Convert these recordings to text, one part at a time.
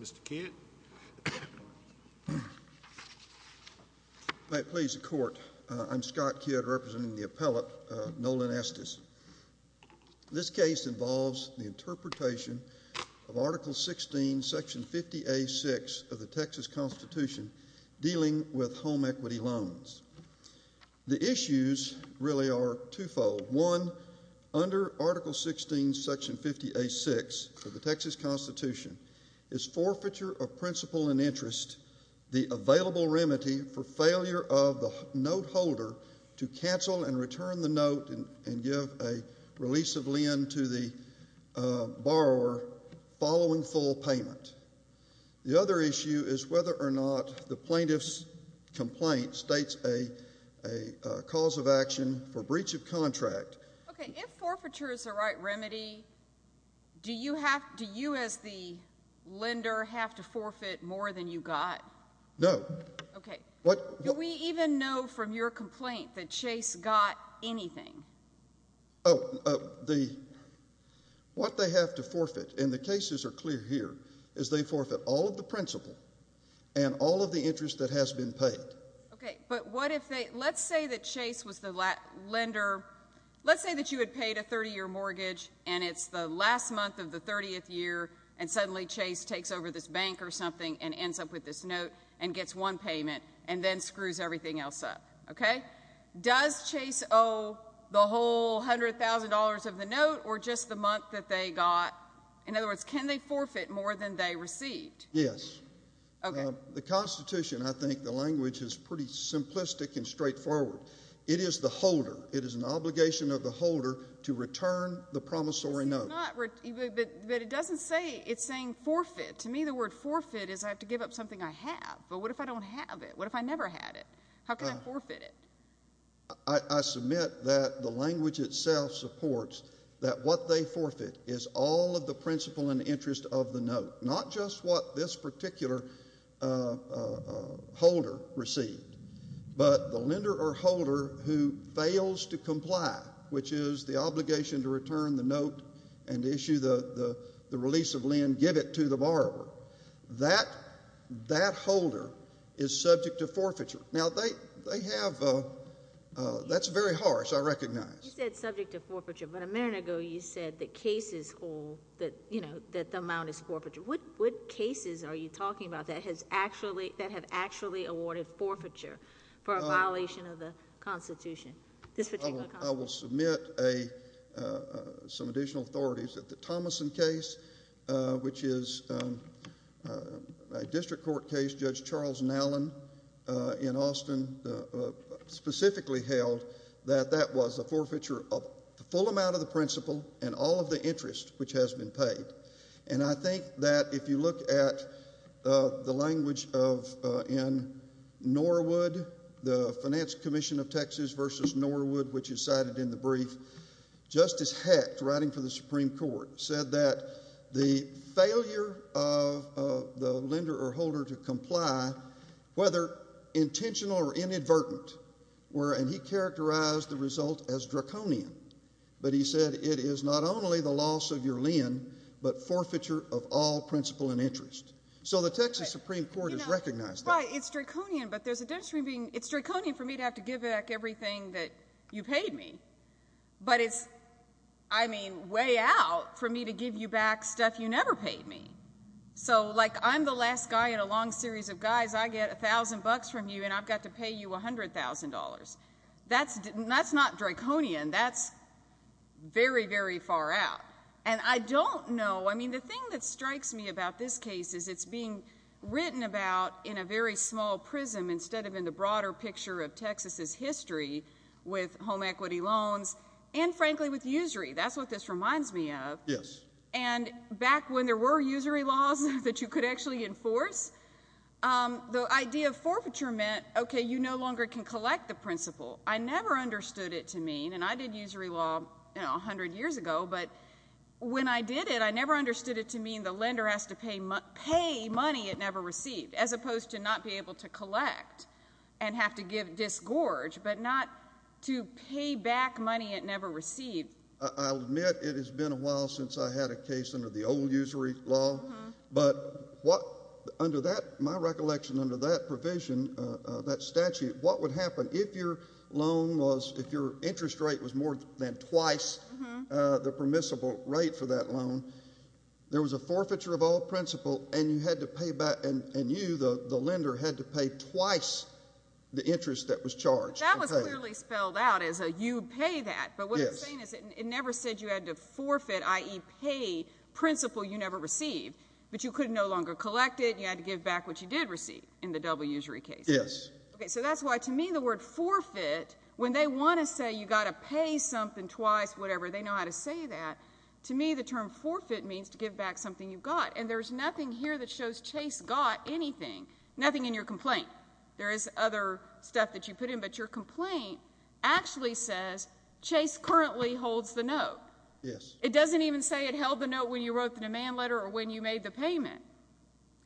Mr. Kent. If I could please the Court, I'm Scott Kidd, representing the appellate Nolan Estes. This case involves the interpretation of Article 16, Section 50A.6 of the Texas Constitution dealing with home equity loans. The issues really are twofold. One, under Article 16, Section 50A.6 of the Texas Constitution, is forfeiture of principle and interest, the available remedy for failure of the note holder to cancel and return the note and give a release of lend to the borrower following full payment. The other issue is whether or not the plaintiff's complaint states a cause of action for breach of contract. Okay. If forfeiture is the right remedy, do you as the lender have to forfeit more than you got? No. Okay. Do we even know from your complaint that Chase got anything? What they have to forfeit, and the cases are clear here, is they forfeit all of the principle and all of the interest that has been paid. Okay. But what if they – let's say that Chase was the lender – let's say that you had paid a 30-year mortgage, and it's the last month of the 30th year, and suddenly Chase takes over this bank or something and ends up with this note and gets one payment and then screws everything else up. Okay. Does Chase owe the whole $100,000 of the note or just the month that they got? In other words, can they forfeit more than they received? Yes. Okay. The Constitution, I think the language is pretty simplistic and straightforward. It is the holder. It is an obligation of the holder to return the promissory note. But it doesn't say – it's saying forfeit. To me, the word forfeit is I have to give up something I have. But what if I don't have it? What if I never had it? How can I forfeit it? I submit that the language itself supports that what they forfeit is all of the principle and interest of the note, not just what this particular holder received, but the lender or holder who fails to comply, which is the obligation to return the note and issue the release of lend, give it to the borrower. That holder is subject to forfeiture. Now, they have – that's very harsh, I recognize. You said subject to forfeiture, but a minute ago you said that cases hold that the amount is forfeiture. What cases are you talking about that have actually awarded forfeiture for a violation of the Constitution, this particular Constitution? I will submit some additional authorities that the Thomason case, which is a district court case, Judge Charles Nallen in Austin specifically held that that was a forfeiture of the full amount of the principle and all of the interest which has been paid. And I think that if you look at the language of – in Norwood, the Finance Commission of Texas versus Norwood, which is cited in the brief, Justice Hecht, writing for the Supreme Court, said that the failure of the lender or holder to comply, whether intentional or inadvertent, and he characterized the result as draconian, but he said it is not only the loss of your lend, but forfeiture of all principle and interest. So the Texas Supreme Court has recognized that. That's why it's draconian, but there's a difference between being – it's draconian for me to have to give back everything that you paid me, but it's, I mean, way out for me to give you back stuff you never paid me. So, like, I'm the last guy in a long series of guys. I get $1,000 from you, and I've got to pay you $100,000. That's not draconian. That's very, very far out. And I don't know. I mean, the thing that strikes me about this case is it's being written about in a very small prism instead of in the broader picture of Texas's history with home equity loans and, frankly, with usury. That's what this reminds me of. Yes. And back when there were usury laws that you could actually enforce, the idea of forfeiture meant, okay, you no longer can collect the principle. I never understood it to mean, and I did usury law, you know, 100 years ago, but when I did it, I never understood it to mean the lender has to pay money it never received as opposed to not be able to collect and have to give disgorge, but not to pay back money it never received. I'll admit it has been a while since I had a case under the old usury law, but under that, my recollection under that provision, that statute, what would happen if your loan was, if your interest rate was more than twice the permissible rate for that loan, there was a forfeiture of all principle and you had to pay back, and you, the lender, had to pay twice the interest that was charged. That was clearly spelled out as a you pay that, but what I'm saying is it never said you had to forfeit, i.e., pay principle you never received, but you could no longer collect it and you had to give back what you did receive in the double usury case. Okay, so that's why, to me, the word forfeit, when they want to say you've got to pay something twice, whatever, they know how to say that. To me, the term forfeit means to give back something you've got, and there's nothing here that shows Chase got anything, nothing in your complaint. There is other stuff that you put in, but your complaint actually says Chase currently holds the note. Yes. It doesn't even say it held the note when you wrote the demand letter or when you made the payment.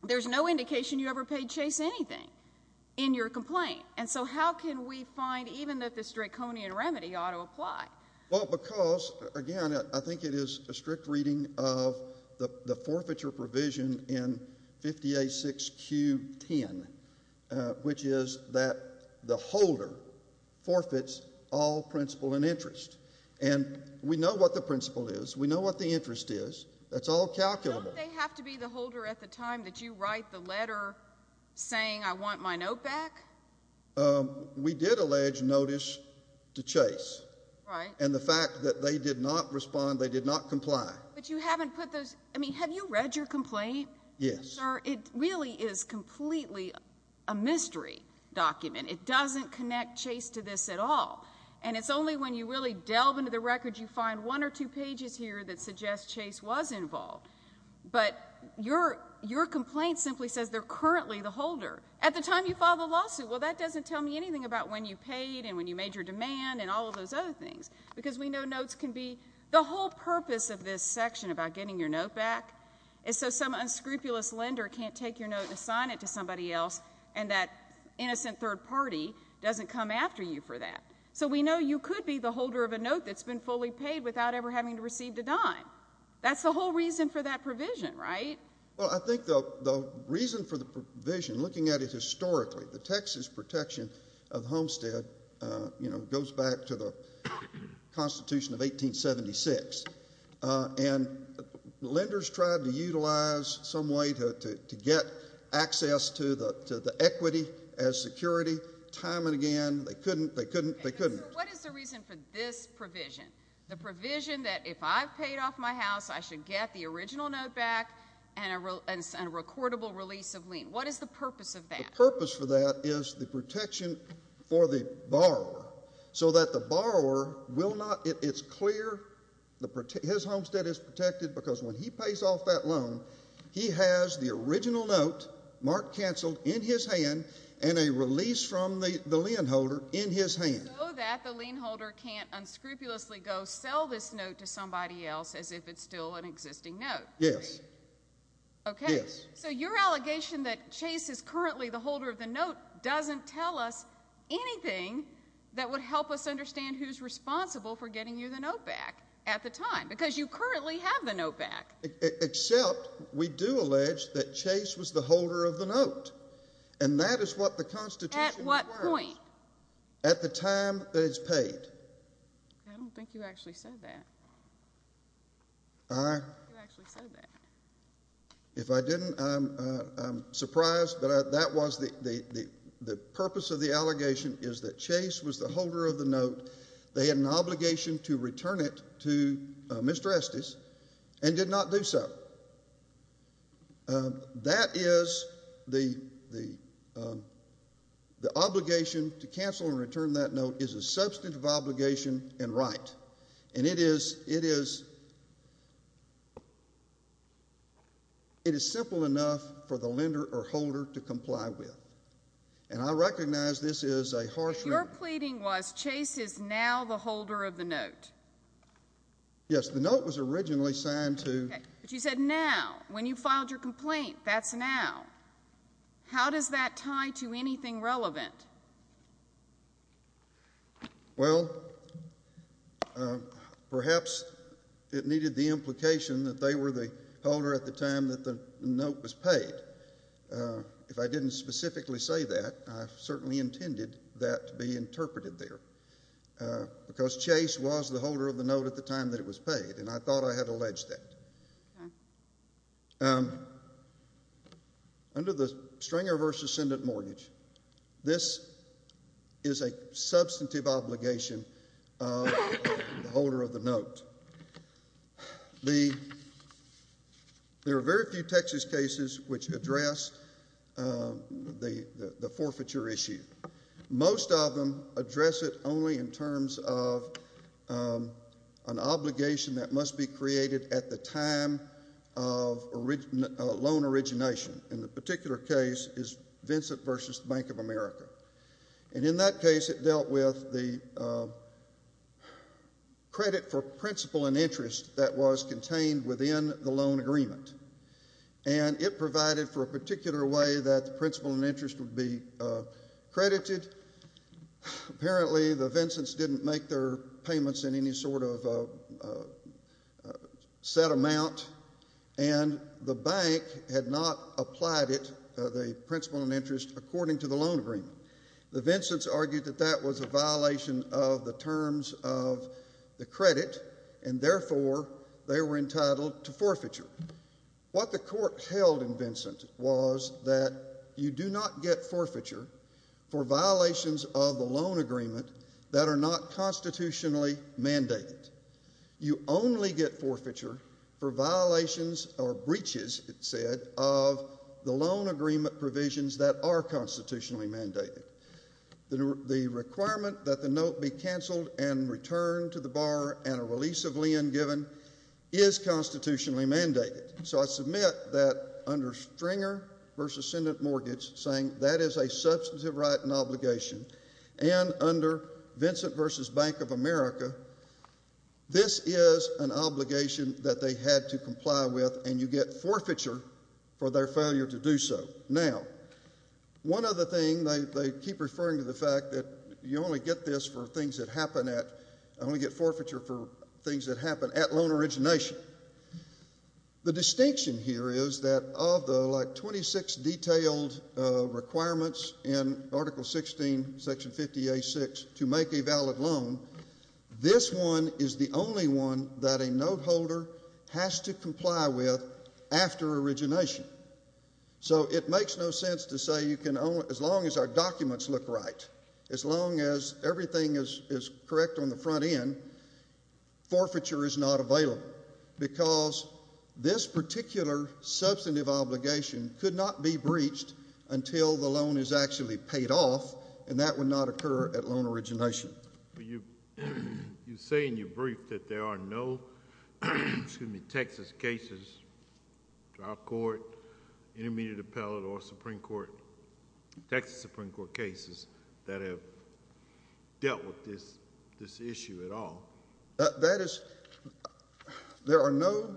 There's no indication you ever paid Chase anything in your complaint, and so how can we find even that this draconian remedy ought to apply? Well, because, again, I think it is a strict reading of the forfeiture provision in 50A6Q10, which is that the holder forfeits all principle and interest. And we know what the principle is. We know what the interest is. That's all calculable. Don't they have to be the holder at the time that you write the letter saying I want my note back? We did allege notice to Chase. Right. And the fact that they did not respond, they did not comply. But you haven't put those. I mean, have you read your complaint? Yes. Sir, it really is completely a mystery document. It doesn't connect Chase to this at all, and it's only when you really delve into the records you find one or two pages here that suggest Chase was involved. But your complaint simply says they're currently the holder at the time you filed the lawsuit. Well, that doesn't tell me anything about when you paid and when you made your demand and all of those other things because we know notes can be the whole purpose of this section about getting your note back. And so some unscrupulous lender can't take your note and assign it to somebody else, and that innocent third party doesn't come after you for that. So we know you could be the holder of a note that's been fully paid without ever having to receive the dime. That's the whole reason for that provision, right? Well, I think the reason for the provision, looking at it historically, the Texas Protection of Homestead goes back to the Constitution of 1876, and lenders tried to utilize some way to get access to the equity as security time and again. They couldn't. They couldn't. They couldn't. What is the reason for this provision, the provision that if I've paid off my house, I should get the original note back and a recordable release of lien? What is the purpose of that? The purpose for that is the protection for the borrower so that the borrower will not ‑‑ it's clear his homestead is protected because when he pays off that loan, he has the original note marked canceled in his hand and a release from the lien holder in his hand. So that the lien holder can't unscrupulously go sell this note to somebody else as if it's still an existing note. Yes. Okay. Yes. So your allegation that Chase is currently the holder of the note doesn't tell us anything that would help us understand who's responsible for getting you the note back at the time because you currently have the note back. Except we do allege that Chase was the holder of the note, and that is what the Constitution requires. At what point? At the time that it's paid. I don't think you actually said that. I ‑‑ You actually said that. If I didn't, I'm surprised. But that was the purpose of the allegation is that Chase was the holder of the note. They had an obligation to return it to Mr. Estes and did not do so. That is the obligation to cancel and return that note is a substantive obligation and right. And it is simple enough for the lender or holder to comply with. And I recognize this is a harsh ‑‑ Your pleading was Chase is now the holder of the note. Yes. The note was originally signed to ‑‑ Okay. But you said now. When you filed your complaint, that's now. How does that tie to anything relevant? Well, perhaps it needed the implication that they were the holder at the time that the note was paid. If I didn't specifically say that, I certainly intended that to be interpreted there. Because Chase was the holder of the note at the time that it was paid, and I thought I had alleged that. Okay. Under the Stringer v. Ascendant Mortgage, this is a substantive obligation of the holder of the note. There are very few Texas cases which address the forfeiture issue. Most of them address it only in terms of an obligation that must be created at the time of loan origination. And the particular case is Vincent v. Bank of America. And in that case, it dealt with the credit for principal and interest that was contained within the loan agreement. And it provided for a particular way that the principal and interest would be credited. Apparently, the Vincents didn't make their payments in any sort of set amount, and the bank had not applied it, the principal and interest, according to the loan agreement. The Vincents argued that that was a violation of the terms of the credit, and therefore, they were entitled to forfeiture. What the court held in Vincent was that you do not get forfeiture for violations of the loan agreement that are not constitutionally mandated. You only get forfeiture for violations or breaches, it said, of the loan agreement provisions that are constitutionally mandated. The requirement that the note be canceled and returned to the borrower and a release of lien given is constitutionally mandated. So I submit that under Stringer v. Ascendant Mortgage, saying that is a substantive right and obligation, and under Vincent v. Bank of America, this is an obligation that they had to comply with, and you get forfeiture for their failure to do so. Now, one other thing, they keep referring to the fact that you only get this for things that happen at, and we get forfeiture for things that happen at loan origination. The distinction here is that of the, like, 26 detailed requirements in Article 16, Section 50A.6 to make a valid loan, this one is the only one that a note holder has to comply with after origination. So it makes no sense to say you can only, as long as our documents look right, as long as everything is correct on the front end, forfeiture is not available because this particular substantive obligation could not be breached until the loan is actually paid off, and that would not occur at loan origination. You say in your brief that there are no Texas cases, trial court, intermediate appellate, or Supreme Court, Texas Supreme Court cases that have dealt with this issue at all. That is, there are no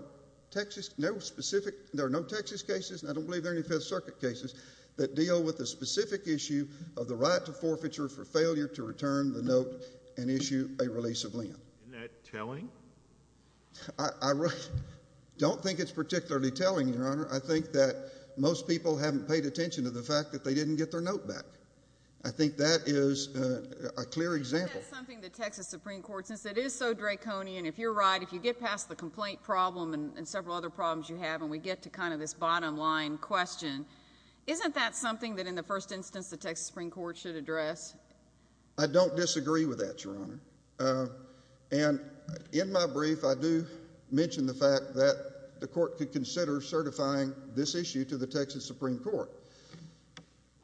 Texas cases, and I don't believe there are any Fifth Circuit cases, that deal with the specific issue of the right to forfeiture for failure to return the note and issue a release of lien. Isn't that telling? I don't think it's particularly telling, Your Honor. I think that most people haven't paid attention to the fact that they didn't get their note back. I think that is a clear example. I think that's something the Texas Supreme Court, since it is so draconian, if you're right, if you get past the complaint problem and several other problems you have and we get to kind of this bottom line question, isn't that something that in the first instance the Texas Supreme Court should address? I don't disagree with that, Your Honor. And in my brief, I do mention the fact that the court could consider certifying this issue to the Texas Supreme Court.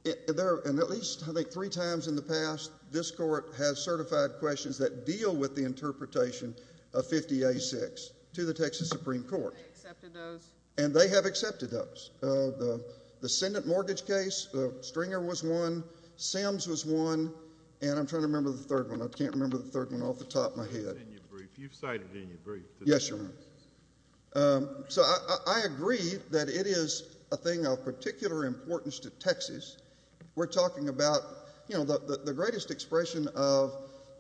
At least, I think, three times in the past, this court has certified questions that deal with the interpretation of 50A6 to the Texas Supreme Court. They accepted those? And they have accepted those. The Senate mortgage case, the Stringer was one, Sims was one, and I'm trying to remember the third one. I can't remember the third one off the top of my head. You've cited it in your brief. Yes, Your Honor. So I agree that it is a thing of particular importance to Texas. We're talking about, you know, the greatest expression of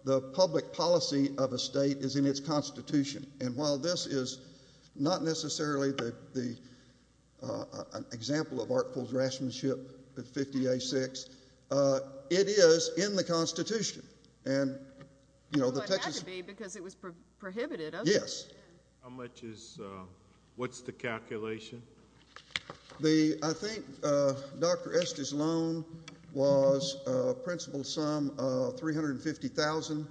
the public policy of a state is in its Constitution. And while this is not necessarily an example of artful draftsmanship, the 50A6, it is in the Constitution. Well, it had to be because it was prohibited, wasn't it? Yes. How much is, what's the calculation? I think Dr. Estes' loan was a principal sum of $350,000.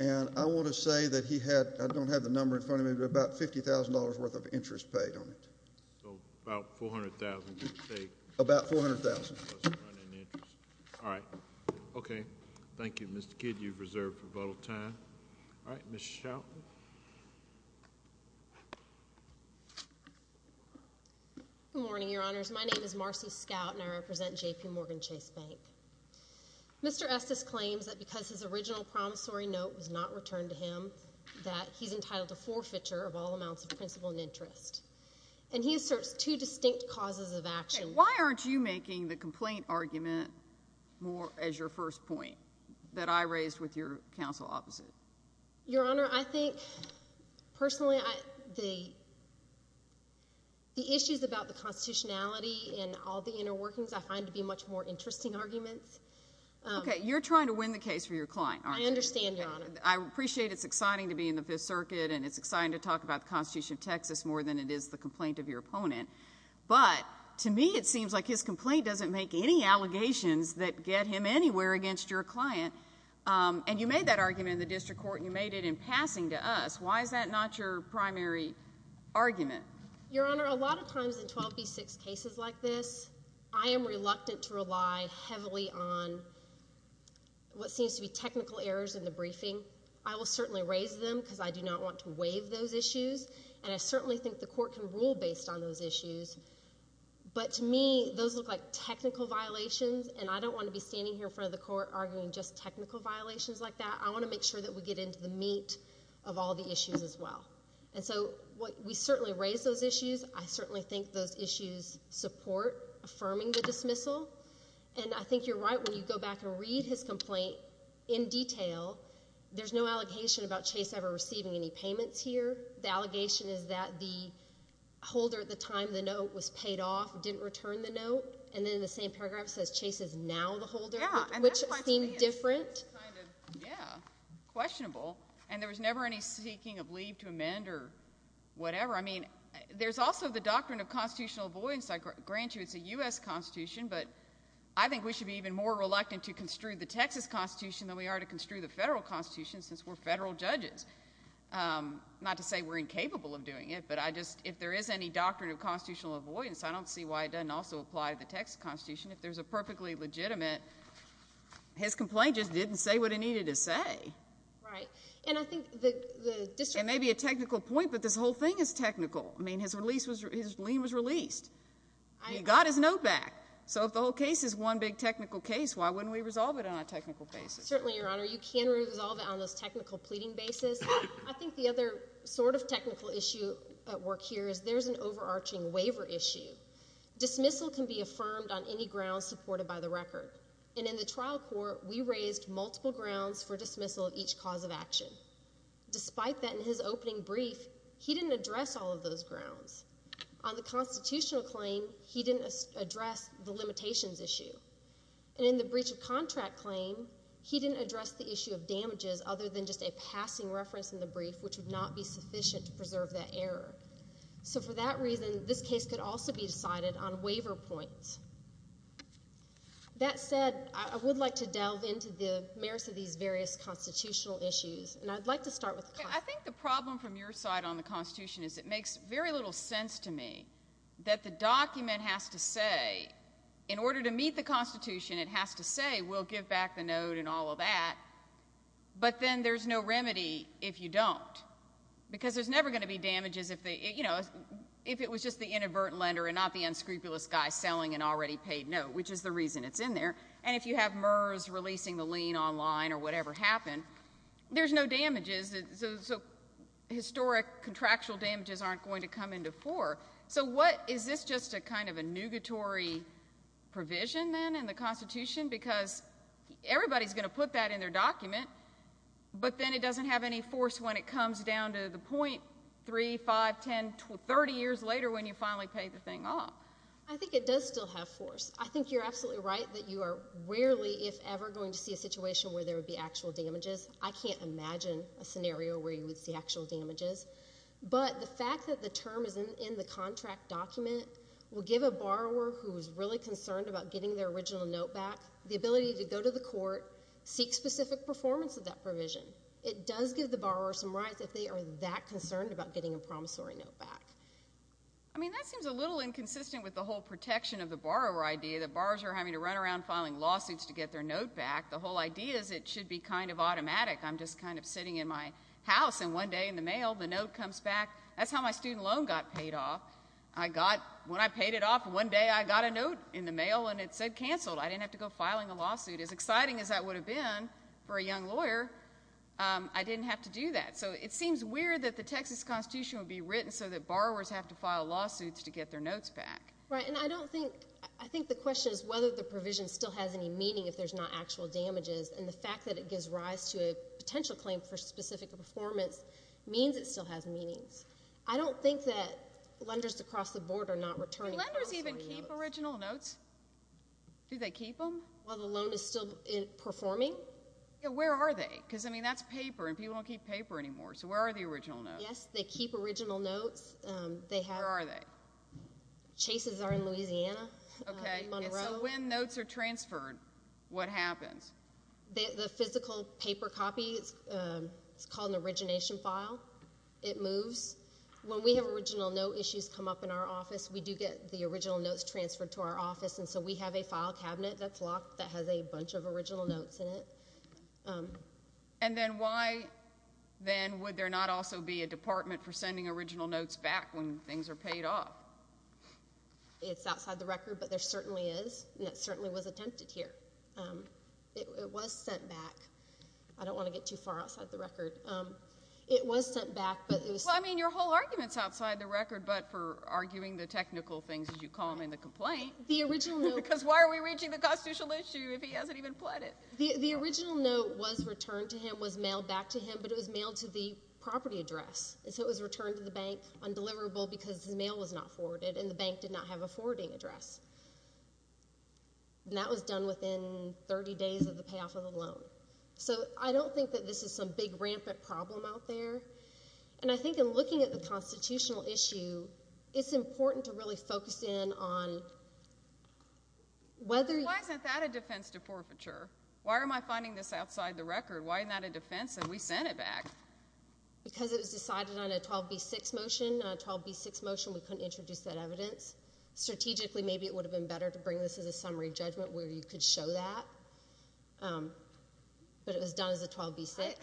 And I want to say that he had, I don't have the number in front of me, but about $50,000 worth of interest paid on it. So about $400,000. About $400,000. All right. Okay. Thank you, Mr. Kidd. You've reserved rebuttal time. All right. Ms. Chilton. Good morning, Your Honors. My name is Marcy Scout, and I represent JPMorgan Chase Bank. Mr. Estes claims that because his original promissory note was not returned to him, that he's entitled a forfeiture of all amounts of principal and interest. And he asserts two distinct causes of action. Why aren't you making the complaint argument more as your first point that I raised with your counsel opposite? Your Honor, I think personally the issues about the constitutionality and all the inner workings I find to be much more interesting arguments. Okay. You're trying to win the case for your client, aren't you? I understand, Your Honor. I appreciate it's exciting to be in the Fifth Circuit, and it's exciting to talk about the Constitution of Texas more than it is the complaint of your opponent. But to me it seems like his complaint doesn't make any allegations that get him anywhere against your client. And you made that argument in the district court, and you made it in passing to us. Why is that not your primary argument? Your Honor, a lot of times in 12B6 cases like this, I am reluctant to rely heavily on what seems to be technical errors in the briefing. I will certainly raise them because I do not want to waive those issues, and I certainly think the court can rule based on those issues. But to me those look like technical violations, and I don't want to be standing here in front of the court arguing just technical violations like that. I want to make sure that we get into the meat of all the issues as well. And so we certainly raise those issues. I certainly think those issues support affirming the dismissal. And I think you're right when you go back and read his complaint in detail. There's no allegation about Chase ever receiving any payments here. The allegation is that the holder at the time the note was paid off didn't return the note, and then the same paragraph says Chase is now the holder, which seems different. Yeah, questionable. And there was never any seeking of leave to amend or whatever. I mean, there's also the doctrine of constitutional avoidance. I grant you it's a U.S. Constitution, but I think we should be even more reluctant to construe the Texas Constitution than we are to construe the federal Constitution since we're federal judges. Not to say we're incapable of doing it, but if there is any doctrine of constitutional avoidance, I don't see why it doesn't also apply to the Texas Constitution. If there's a perfectly legitimate, his complaint just didn't say what it needed to say. Right. And I think the district It may be a technical point, but this whole thing is technical. I mean, his lien was released. He got his note back. So if the whole case is one big technical case, why wouldn't we resolve it on a technical basis? Certainly, Your Honor. You can resolve it on this technical pleading basis. I think the other sort of technical issue at work here is there's an overarching waiver issue. Dismissal can be affirmed on any grounds supported by the record. And in the trial court, we raised multiple grounds for dismissal of each cause of action. Despite that, in his opening brief, he didn't address all of those grounds. On the constitutional claim, he didn't address the limitations issue. And in the breach of contract claim, he didn't address the issue of damages other than just a passing reference in the brief, which would not be sufficient to preserve that error. So for that reason, this case could also be decided on waiver points. That said, I would like to delve into the merits of these various constitutional issues. And I'd like to start with the Constitution. I think the problem from your side on the Constitution is it makes very little sense to me that the document has to say, in order to meet the Constitution, it has to say, we'll give back the note and all of that, but then there's no remedy if you don't. Because there's never going to be damages if it was just the inadvertent lender and not the unscrupulous guy selling an already paid note, which is the reason it's in there. And if you have MERS releasing the lien online or whatever happened, there's no damages. So historic contractual damages aren't going to come into fore. So is this just kind of a nugatory provision then in the Constitution? Because everybody's going to put that in their document, but then it doesn't have any force when it comes down to the point 3, 5, 10, 30 years later when you finally pay the thing off. I think it does still have force. I think you're absolutely right that you are rarely, if ever, going to see a situation where there would be actual damages. I can't imagine a scenario where you would see actual damages. But the fact that the term is in the contract document will give a borrower who is really concerned about getting their original note back the ability to go to the court, seek specific performance of that provision. It does give the borrower some rights if they are that concerned about getting a promissory note back. I mean, that seems a little inconsistent with the whole protection of the borrower idea that borrowers are having to run around filing lawsuits to get their note back. The whole idea is it should be kind of automatic. I'm just kind of sitting in my house, and one day in the mail the note comes back. That's how my student loan got paid off. When I paid it off, one day I got a note in the mail, and it said canceled. I didn't have to go filing a lawsuit. As exciting as that would have been for a young lawyer, I didn't have to do that. So it seems weird that the Texas Constitution would be written so that borrowers have to file lawsuits to get their notes back. Right, and I think the question is whether the provision still has any meaning if there's not actual damages. And the fact that it gives rise to a potential claim for specific performance means it still has meaning. I don't think that lenders across the board are not returning promissory notes. Do lenders even keep original notes? Do they keep them? While the loan is still performing? Yeah, where are they? Because, I mean, that's paper, and people don't keep paper anymore. So where are the original notes? Yes, they keep original notes. Where are they? Chases are in Louisiana, Monroe. And so when notes are transferred, what happens? The physical paper copy is called an origination file. It moves. When we have original note issues come up in our office, we do get the original notes transferred to our office, and so we have a file cabinet that's locked that has a bunch of original notes in it. And then why, then, would there not also be a department for sending original notes back when things are paid off? It's outside the record, but there certainly is, and it certainly was attempted here. It was sent back. I don't want to get too far outside the record. It was sent back, but it was sent back. Well, I mean, your whole argument is outside the record, but for arguing the technical things, as you call them, in the complaint. Because why are we reaching the constitutional issue if he hasn't even pled it? The original note was returned to him, was mailed back to him, but it was mailed to the property address. And so it was returned to the bank undeliverable because the mail was not forwarded and the bank did not have a forwarding address. And that was done within 30 days of the payoff of the loan. So I don't think that this is some big, rampant problem out there. And I think in looking at the constitutional issue, it's important to really focus in on whether you— Why isn't that a defense to forfeiture? Why am I finding this outside the record? Why isn't that a defense that we sent it back? Because it was decided on a 12B6 motion. On a 12B6 motion, we couldn't introduce that evidence. Strategically, maybe it would have been better to bring this as a summary judgment where you could show that, but it was done as a 12B6.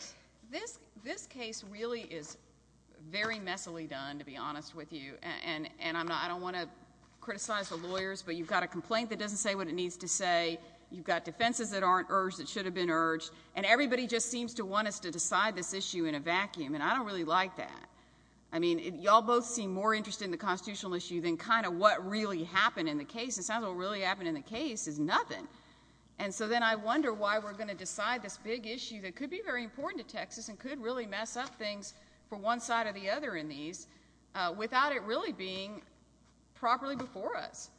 This case really is very messily done, to be honest with you. And I don't want to criticize the lawyers, but you've got a complaint that doesn't say what it needs to say. You've got defenses that aren't urged that should have been urged. And everybody just seems to want us to decide this issue in a vacuum, and I don't really like that. I mean, y'all both seem more interested in the constitutional issue than kind of what really happened in the case. It sounds like what really happened in the case is nothing. And so then I wonder why we're going to decide this big issue that could be very important to Texas and could really mess up things for one side or the other in these without it really being properly before us.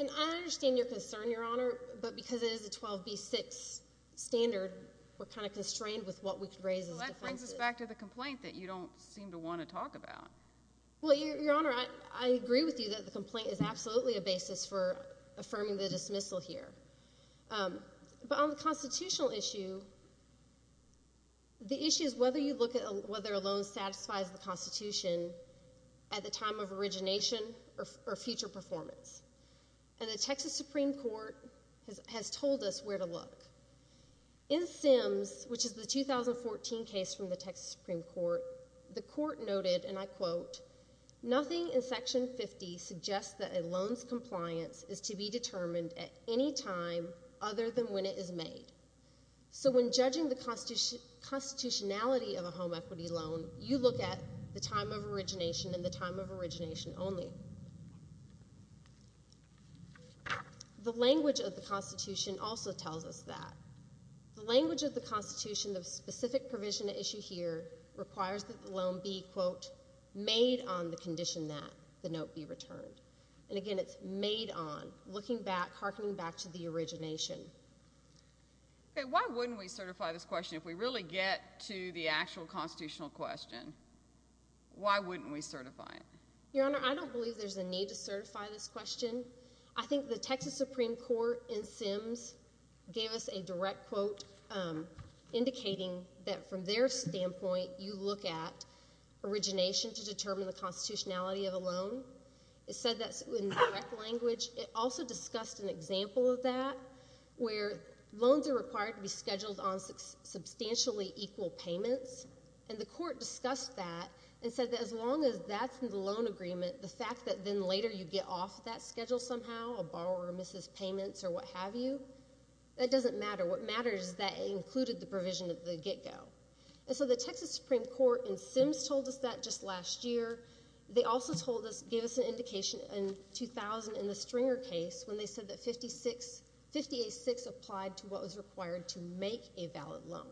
And I understand your concern, Your Honor, but because it is a 12B6 standard, we're kind of constrained with what we could raise as defenses. Well, that brings us back to the complaint that you don't seem to want to talk about. Well, Your Honor, I agree with you that the complaint is absolutely a basis for affirming the dismissal here. But on the constitutional issue, the issue is whether you look at whether a loan satisfies the Constitution at the time of origination or future performance. And the Texas Supreme Court has told us where to look. In Sims, which is the 2014 case from the Texas Supreme Court, the court noted, and I quote, nothing in Section 50 suggests that a loan's compliance is to be determined at any time other than when it is made. So when judging the constitutionality of a home equity loan, you look at the time of origination and the time of origination only. The language of the Constitution also tells us that. The language of the Constitution, the specific provision issued here, requires that the loan be, quote, made on the condition that the note be returned. And again, it's made on, looking back, harkening back to the origination. Okay, why wouldn't we certify this question if we really get to the actual constitutional question? Why wouldn't we certify it? Your Honor, I don't believe there's a need to certify this question. I think the Texas Supreme Court in Sims gave us a direct quote indicating that from their standpoint, you look at origination to determine the constitutionality of a loan. It said that in direct language. It also discussed an example of that where loans are required to be scheduled on substantially equal payments. And the court discussed that and said that as long as that's in the loan agreement, the fact that then later you get off that schedule somehow, a borrower misses payments or what have you, that doesn't matter. What matters is that it included the provision of the get-go. And so the Texas Supreme Court in Sims told us that just last year. They also told us, gave us an indication in 2000 in the Stringer case when they said that 58-6 applied to what was required to make a valid loan.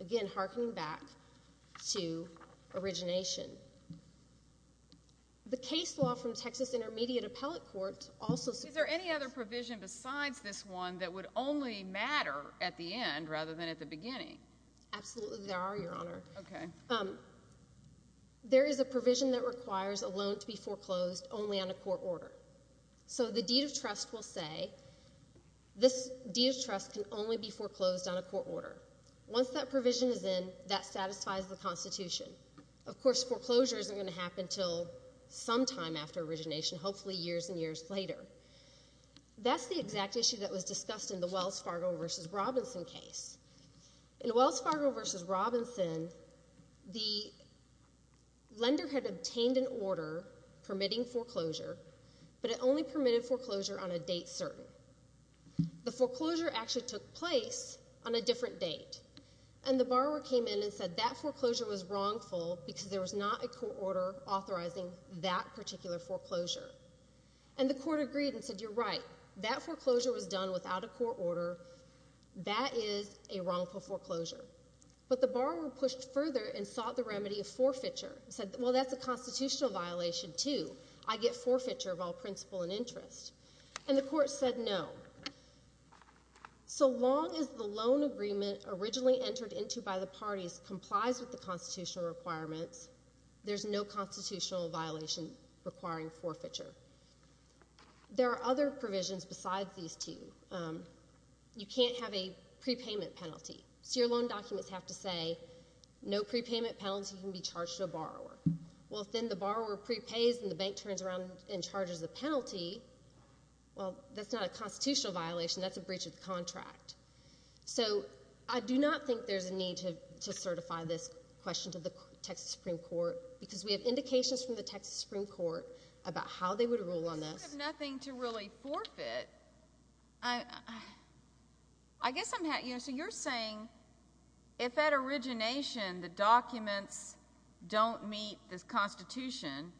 Again, harkening back to origination. The case law from Texas Intermediate Appellate Court also... Is there any other provision besides this one that would only matter at the end rather than at the beginning? Absolutely there are, Your Honor. There is a provision that requires a loan to be foreclosed only on a court order. So the deed of trust will say this deed of trust can only be foreclosed on a court order. Once that provision is in, that satisfies the Constitution. Of course, foreclosure isn't going to happen until sometime after origination, hopefully years and years later. That's the exact issue that was discussed in the Wells Fargo v. Robinson case. In Wells Fargo v. Robinson, the lender had obtained an order permitting foreclosure but it only permitted foreclosure on a date certain. The foreclosure actually took place on a different date, and the borrower came in and said that foreclosure was wrongful because there was not a court order authorizing that particular foreclosure. And the court agreed and said, You're right. That foreclosure was done without a court order. That is a wrongful foreclosure. But the borrower pushed further and sought the remedy of forfeiture and said, Well, that's a constitutional violation too. I get forfeiture of all principle and interest. And the court said no. So long as the loan agreement originally entered into by the parties complies with the constitutional requirements, there's no constitutional violation requiring forfeiture. There are other provisions besides these two. You can't have a prepayment penalty. So your loan documents have to say, No prepayment penalty can be charged to a borrower. Well, if then the borrower prepays and the bank turns around and charges the penalty, well, that's not a constitutional violation. That's a breach of the contract. So I do not think there's a need to certify this question to the Texas Supreme Court because we have indications from the Texas Supreme Court about how they would rule on this. You don't have nothing to really forfeit. So you're saying if at origination the documents don't meet the Constitution,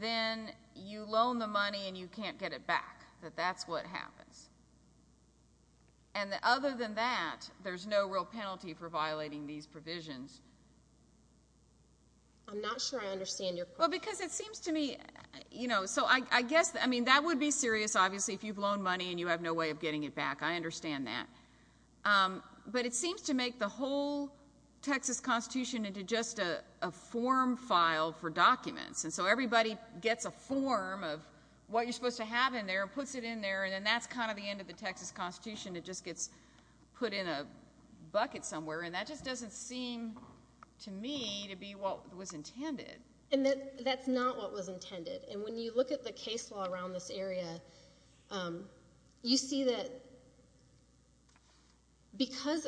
then you loan the money and you can't get it back, that that's what happens. And other than that, there's no real penalty for violating these provisions. I'm not sure I understand your question. Well, because it seems to me, you know, so I guess, I mean, that would be serious, obviously, if you've loaned money and you have no way of getting it back. I understand that. But it seems to make the whole Texas Constitution into just a form file for documents. And so everybody gets a form of what you're supposed to have in there and puts it in there, and then that's kind of the end of the Texas Constitution. It just gets put in a bucket somewhere. And that just doesn't seem to me to be what was intended. And that's not what was intended. And when you look at the case law around this area, you see that because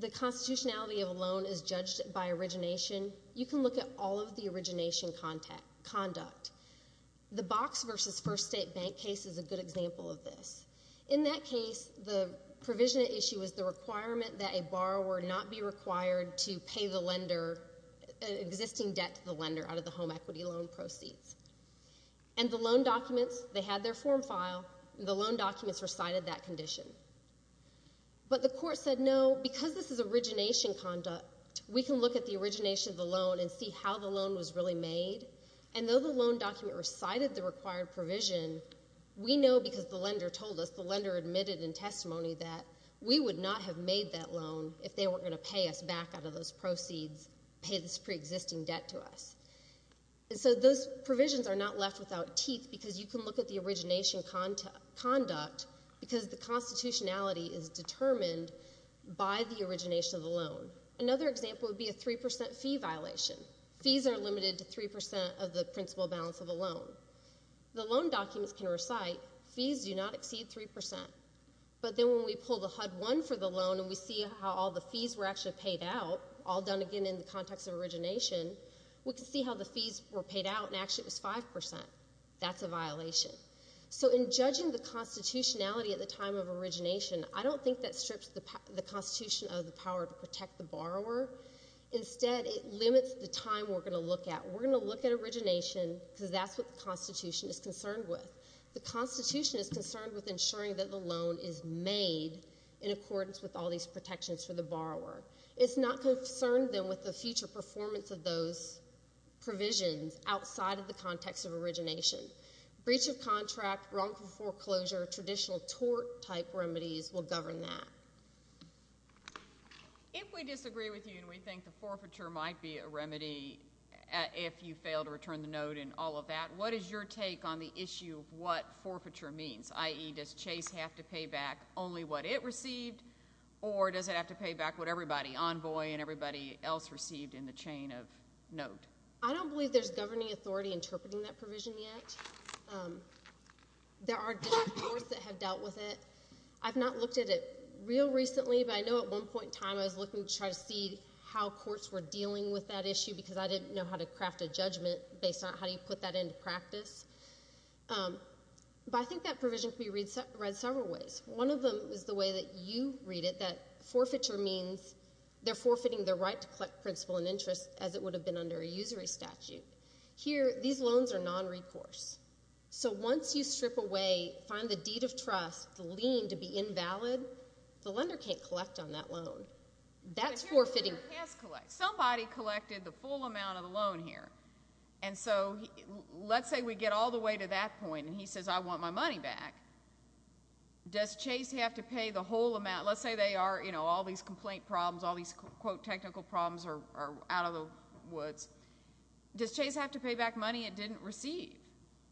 the constitutionality of a loan is judged by origination, you can look at all of the origination conduct. The Box v. First State Bank case is a good example of this. In that case, the provision at issue is the requirement that a borrower not be required to pay the lender, existing debt to the lender, out of the home equity loan proceeds. And the loan documents, they had their form file, and the loan documents recited that condition. But the court said, no, because this is origination conduct, we can look at the origination of the loan and see how the loan was really made. And though the loan document recited the required provision, we know because the lender told us, the lender admitted in testimony that we would not have made that loan if they weren't going to pay us back out of those proceeds, pay this preexisting debt to us. And so those provisions are not left without teeth because you can look at the origination conduct because the constitutionality is determined by the origination of the loan. Another example would be a 3% fee violation. Fees are limited to 3% of the principal balance of a loan. The loan documents can recite, fees do not exceed 3%. But then when we pull the HUD-1 for the loan and we see how all the fees were actually paid out, all done, again, in the context of origination, we can see how the fees were paid out, and actually it was 5%. That's a violation. So in judging the constitutionality at the time of origination, I don't think that strips the constitution of the power to protect the borrower. Instead, it limits the time we're going to look at. We're going to look at origination because that's what the constitution is concerned with. The constitution is concerned with ensuring that the loan is made in accordance with all these protections for the borrower. It's not concerned, then, with the future performance of those provisions outside of the context of origination. Breach of contract, wrongful foreclosure, traditional tort-type remedies will govern that. If we disagree with you and we think the forfeiture might be a remedy if you fail to return the note and all of that, what is your take on the issue of what forfeiture means? i.e., does Chase have to pay back only what it received, or does it have to pay back what everybody, envoy and everybody else, received in the chain of note? I don't believe there's governing authority interpreting that provision yet. There are different courts that have dealt with it. I've not looked at it real recently, but I know at one point in time I was looking to try to see how courts were dealing with that issue because I didn't know how to craft a judgment based on how you put that into practice. But I think that provision can be read several ways. One of them is the way that you read it, that forfeiture means they're forfeiting their right to collect principal and interest as it would have been under a usury statute. Here, these loans are non-recourse. So once you strip away, find the deed of trust, the lien to be invalid, the lender can't collect on that loan. That's forfeiting. Somebody collected the full amount of the loan here. And so let's say we get all the way to that point and he says, I want my money back. Does Chase have to pay the whole amount? Let's say they are, you know, all these complaint problems, all these, quote, technical problems are out of the woods. Does Chase have to pay back money it didn't receive?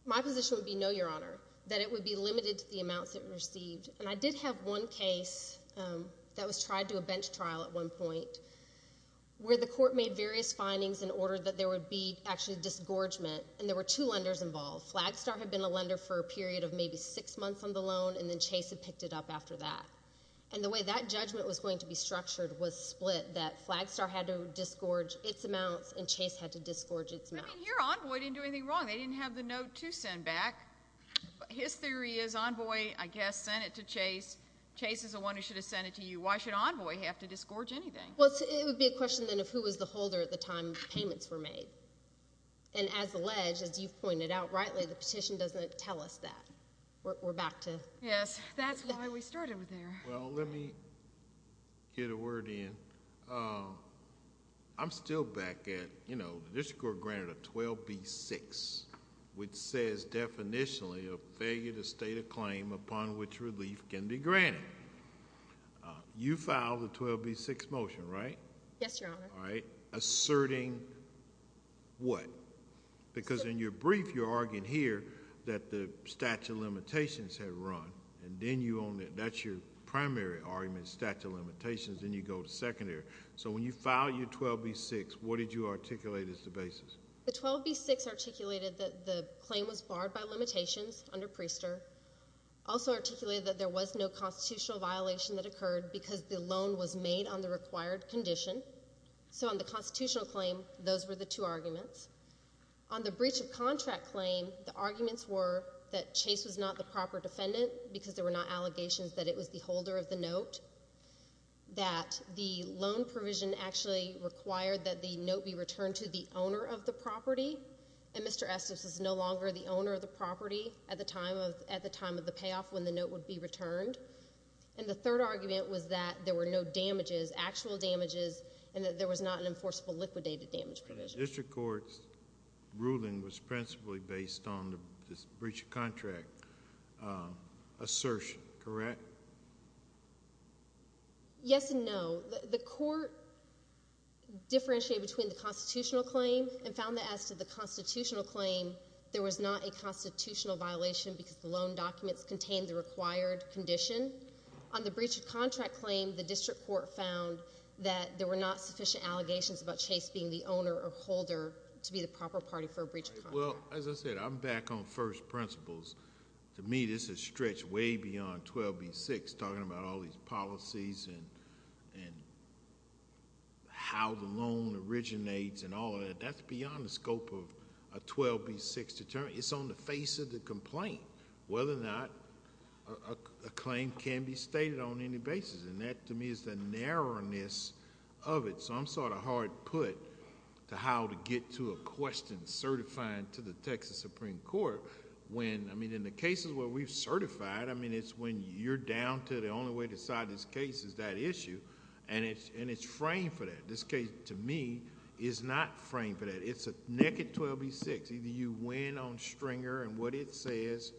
My position would be no, Your Honor, that it would be limited to the amounts it received. And I did have one case that was tried to a bench trial at one point where the court made various findings in order that there would be actually disgorgement, and there were two lenders involved. Flagstar had been a lender for a period of maybe six months on the loan, and then Chase had picked it up after that. And the way that judgment was going to be structured was split, that Flagstar had to disgorge its amounts and Chase had to disgorge its amounts. I mean, here Envoy didn't do anything wrong. They didn't have the note to send back. His theory is Envoy, I guess, sent it to Chase. Chase is the one who should have sent it to you. Why should Envoy have to disgorge anything? Well, it would be a question, then, of who was the holder at the time payments were made. And as alleged, as you've pointed out, rightly, the petition doesn't tell us that. We're back to... Yes, that's why we started with there. Well, let me get a word in. I'm still back at, you know, the district court granted a 12b-6, which says, definitionally, a failure to state a claim upon which relief can be granted. You filed the 12b-6 motion, right? Yes, Your Honor. Asserting what? Because in your brief, you're arguing here that the statute of limitations had run, and then that's your primary argument, statute of limitations, then you go to secondary. So when you filed your 12b-6, what did you articulate as the basis? The 12b-6 articulated that the claim was barred by limitations under Priester. Also articulated that there was no constitutional violation that occurred because the loan was made on the required condition. So on the constitutional claim, those were the two arguments. On the breach of contract claim, the arguments were that Chase was not the proper defendant because there were not allegations that it was the holder of the note, that the loan provision actually required that the note be returned to the owner of the property, and Mr. Estes was no longer the owner of the property at the time of the payoff when the note would be returned. And the third argument was that there were no damages, actual damages, and that there was not an enforceable liquidated damage provision. The district court's ruling was principally based on the breach of contract assertion, correct? Yes and no. The court differentiated between the constitutional claim and found that as to the constitutional claim, there was not a constitutional violation because the loan documents contained the required condition. On the breach of contract claim, the district court found that there were not sufficient allegations about Chase being the owner or holder to be the proper party for a breach of contract. Well, as I said, I'm back on first principles. To me, this is stretched way beyond 12b-6, talking about all these policies and how the loan originates and all of that. That's beyond the scope of a 12b-6 determination. It's on the face of the complaint, whether or not a claim can be stated on any basis. And that, to me, is the narrowness of it. So I'm sort of hard put to how to get to a question certifying to the Texas Supreme Court when... I mean, in the cases where we've certified, I mean, it's when you're down to the only way to decide this case is that issue, and it's framed for that. This case, to me, is not framed for that. It's a naked 12b-6. Either you win on Stringer and what it says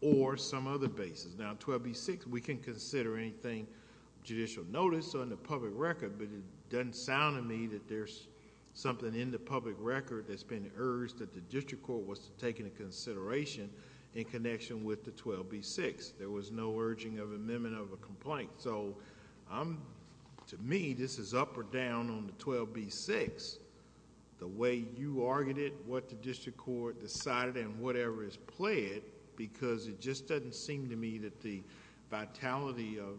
or some other basis. Now, 12b-6, we can consider anything judicial notice on the public record, but it doesn't sound to me that there's something in the public record that's been urged that the district court was to take into consideration in connection with the 12b-6. There was no urging of amendment of a complaint. So, to me, this is up or down on the 12b-6, the way you argued it, what the district court decided, and whatever is pled, because it just doesn't seem to me that the vitality of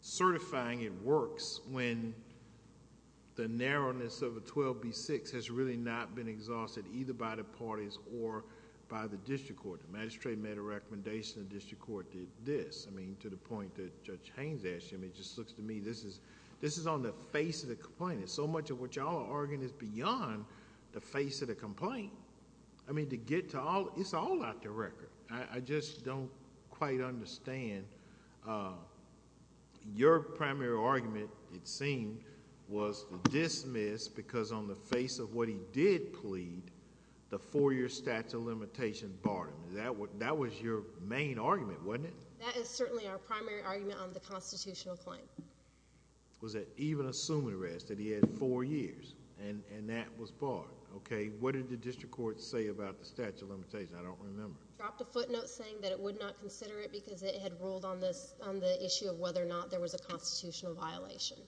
certifying it works when the narrowness of a 12b-6 has really not been exhausted either by the parties or by the district court. The magistrate made a recommendation, the district court did this. I mean, to the point that Judge Haynes asked him, it just looks to me, this is on the face of the complainant. So much of what you all are arguing is beyond the face of the complaint. I mean, to get to all, it's all out the record. I just don't quite understand. Your primary argument, it seemed, was to dismiss, because on the face of what he did plead, the four-year statute of limitations barred him. That was your main argument, wasn't it? That is certainly our primary argument on the constitutional claim. Was that even assuming arrest, that he had four years, and that was barred. What did the district court say about the statute of limitations? I don't remember. It dropped a footnote saying that it would not consider it because it had ruled on the issue of whether or not there was a constitutional violation.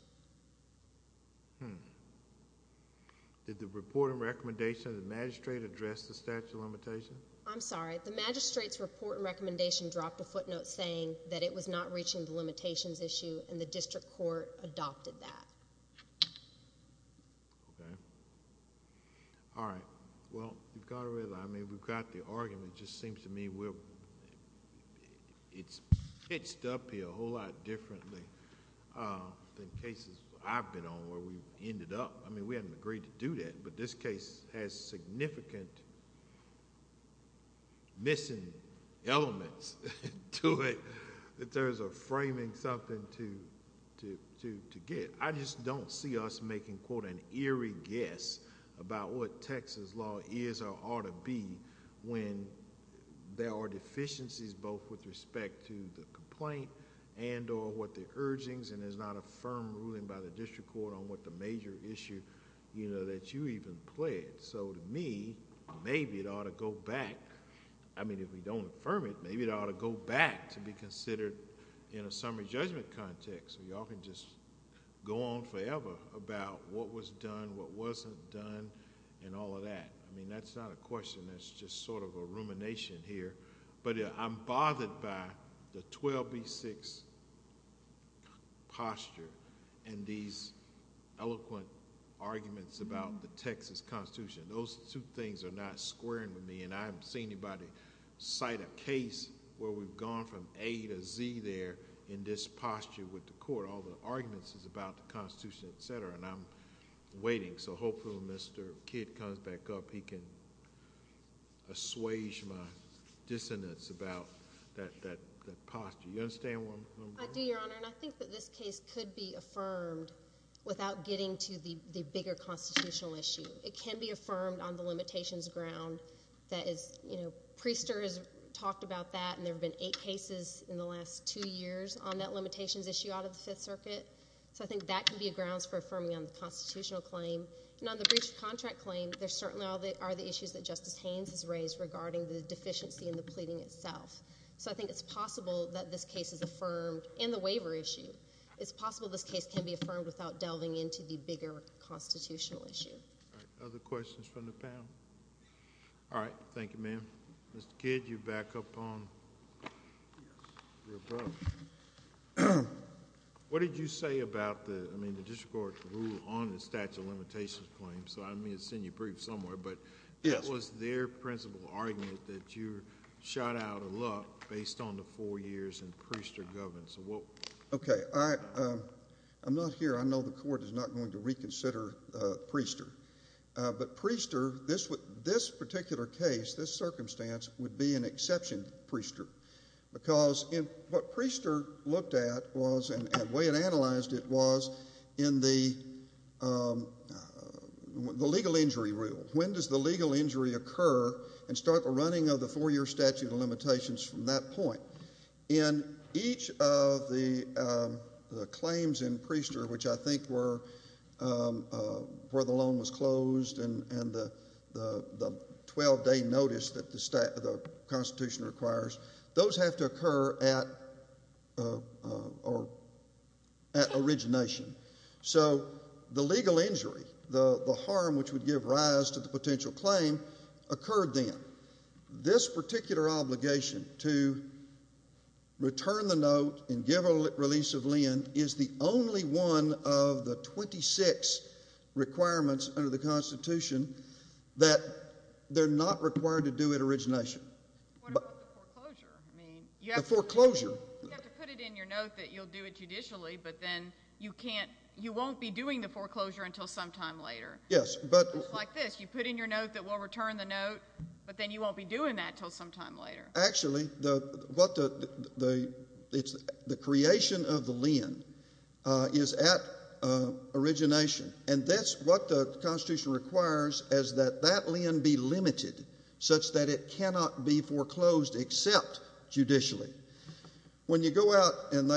Did the report and recommendation of the magistrate address the statute of limitations? I'm sorry. The magistrate's report and recommendation dropped a footnote saying that it was not reaching the limitations issue, and the district court adopted that. All right. Well, you've got to realize, I mean, we've got the argument. It just seems to me it's pitched up here a whole lot differently than cases I've been on where we ended up. I mean, we hadn't agreed to do that, but this case has significant missing elements to it in terms of framing something to get. I just don't see us making, quote, an eerie guess about what Texas law is or ought to be when there are deficiencies both with respect to the complaint and or what the urgings, and there's not a firm ruling by the district court on what the major issue that you even pled. So to me, maybe it ought to go back. I mean, if we don't affirm it, maybe it ought to go back to be considered in a summary judgment context where you all can just go on forever about what was done, what wasn't done, and all of that. I mean, that's not a question. That's just sort of a rumination here. But I'm bothered by the 12B6 posture and these eloquent arguments about the Texas Constitution. Those two things are not squaring with me, and I haven't seen anybody cite a case where we've gone from A to Z there in this posture with the court. All the arguments is about the Constitution, et cetera, and I'm waiting. So hopefully when Mr. Kidd comes back up, he can assuage my dissonance about that posture. You understand where I'm going? I do, Your Honor, and I think that this case could be affirmed without getting to the bigger constitutional issue. It can be affirmed on the limitations ground. Priester has talked about that, and there have been eight cases in the last two years on that limitations issue out of the Fifth Circuit. So I think that can be a grounds for affirming on the constitutional claim. And on the breach of contract claim, there certainly are the issues that Justice Haynes has raised regarding the deficiency in the pleading itself. So I think it's possible that this case is affirmed in the waiver issue. It's possible this case can be affirmed without delving into the bigger constitutional issue. All right. Other questions from the panel? All right. Thank you, ma'am. Mr. Kidd, you're back up on. Yes. What did you say about the, I mean, the district court's rule on the statute of limitations claim? So I may have seen you brief somewhere, but what was their principal argument that you shot out of luck based on the four years in Priester governance? Okay. I'm not here. I know the Court is not going to reconsider Priester. But Priester, this particular case, this circumstance, would be an exception to Priester because what Priester looked at was and the way it analyzed it was in the legal injury rule. When does the legal injury occur and start the running of the four-year statute of limitations from that point? In each of the claims in Priester, which I think were where the loan was closed and the 12-day notice that the Constitution requires, those have to occur at origination. So the legal injury, the harm which would give rise to the potential claim, occurred then. This particular obligation to return the note and give a release of lend is the only one of the 26 requirements under the Constitution that they're not required to do at origination. What about the foreclosure? The foreclosure. You have to put it in your note that you'll do it judicially, but then you won't be doing the foreclosure until sometime later. Yes, but— It's like this. You put in your note that we'll return the note, but then you won't be doing that until sometime later. Actually, the creation of the lend is at origination, and that's what the Constitution requires is that that lend be limited such that it cannot be foreclosed except judicially. When you go out, and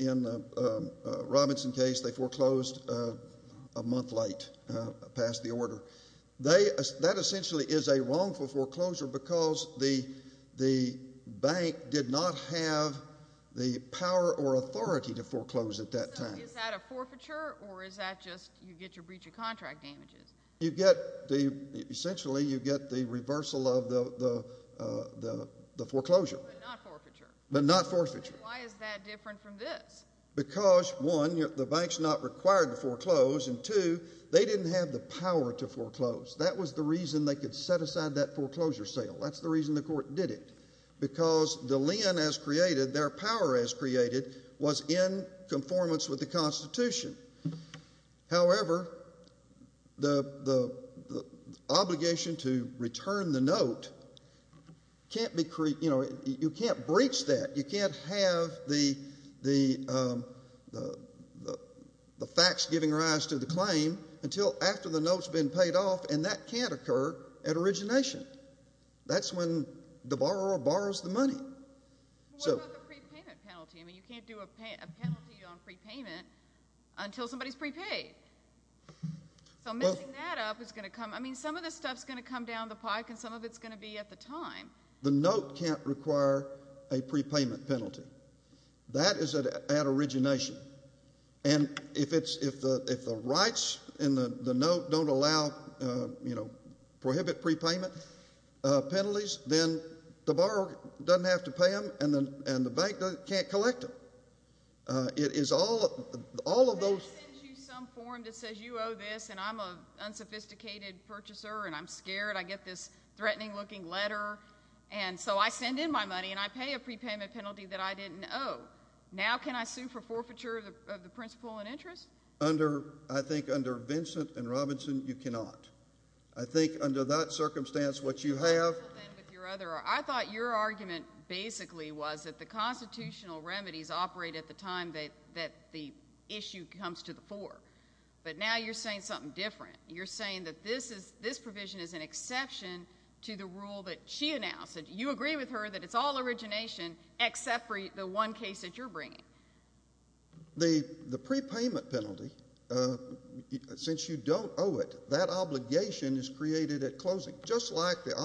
in the Robinson case, they foreclosed a month late past the order. That essentially is a wrongful foreclosure because the bank did not have the power or authority to foreclose at that time. So is that a forfeiture, or is that just you get your breach of contract damages? Essentially, you get the reversal of the foreclosure. But not forfeiture. But not forfeiture. Then why is that different from this? Because, one, the bank's not required to foreclose, and, two, they didn't have the power to foreclose. That was the reason they could set aside that foreclosure sale. That's the reason the court did it because the lend as created, their power as created, was in conformance with the Constitution. However, the obligation to return the note can't be—you know, you can't breach that. You can't have the facts giving rise to the claim until after the note's been paid off, and that can't occur at origination. That's when the borrower borrows the money. What about the prepayment penalty? I mean, you can't do a penalty on prepayment until somebody's prepaid. So messing that up is going to come—I mean, some of this stuff's going to come down the pike, and some of it's going to be at the time. The note can't require a prepayment penalty. That is at origination. And if the rights in the note don't allow—you know, prohibit prepayment penalties, then the borrower doesn't have to pay them, and the bank can't collect them. It is all—all of those— The bank sends you some form that says you owe this, and I'm an unsophisticated purchaser, and I'm scared. I get this threatening-looking letter, and so I send in my money, and I pay a prepayment penalty that I didn't owe. Now can I sue for forfeiture of the principal and interest? Under—I think under Vincent and Robinson, you cannot. I think under that circumstance, what you have— I thought your argument basically was that the constitutional remedies operate at the time that the issue comes to the fore. But now you're saying something different. You're saying that this provision is an exception to the rule that she announced. You agree with her that it's all origination except for the one case that you're bringing. The prepayment penalty, since you don't owe it, that obligation is created at closing, just like the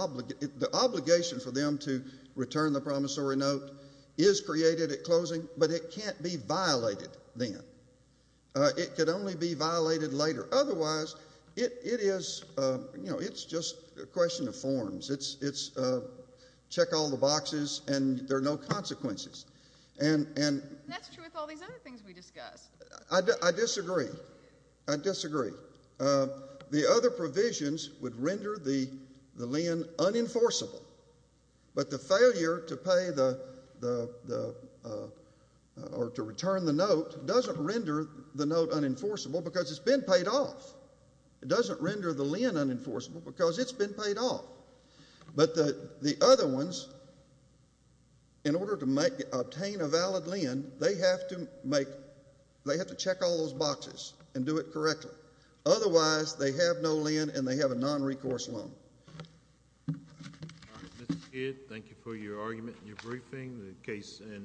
obligation for them to return the promissory note is created at closing, but it can't be violated then. It could only be violated later. Otherwise, it is—you know, it's just a question of forms. It's check all the boxes, and there are no consequences. And— That's true with all these other things we discussed. I disagree. I disagree. The other provisions would render the lien unenforceable, but the failure to pay the—or to return the note doesn't render the note unenforceable because it's been paid off. It doesn't render the lien unenforceable because it's been paid off. But the other ones, in order to obtain a valid lien, they have to make—they have to check all those boxes and do it correctly. Otherwise, they have no lien and they have a nonrecourse loan. All right. Mr. Kidd, thank you for your argument and your briefing. The case ends.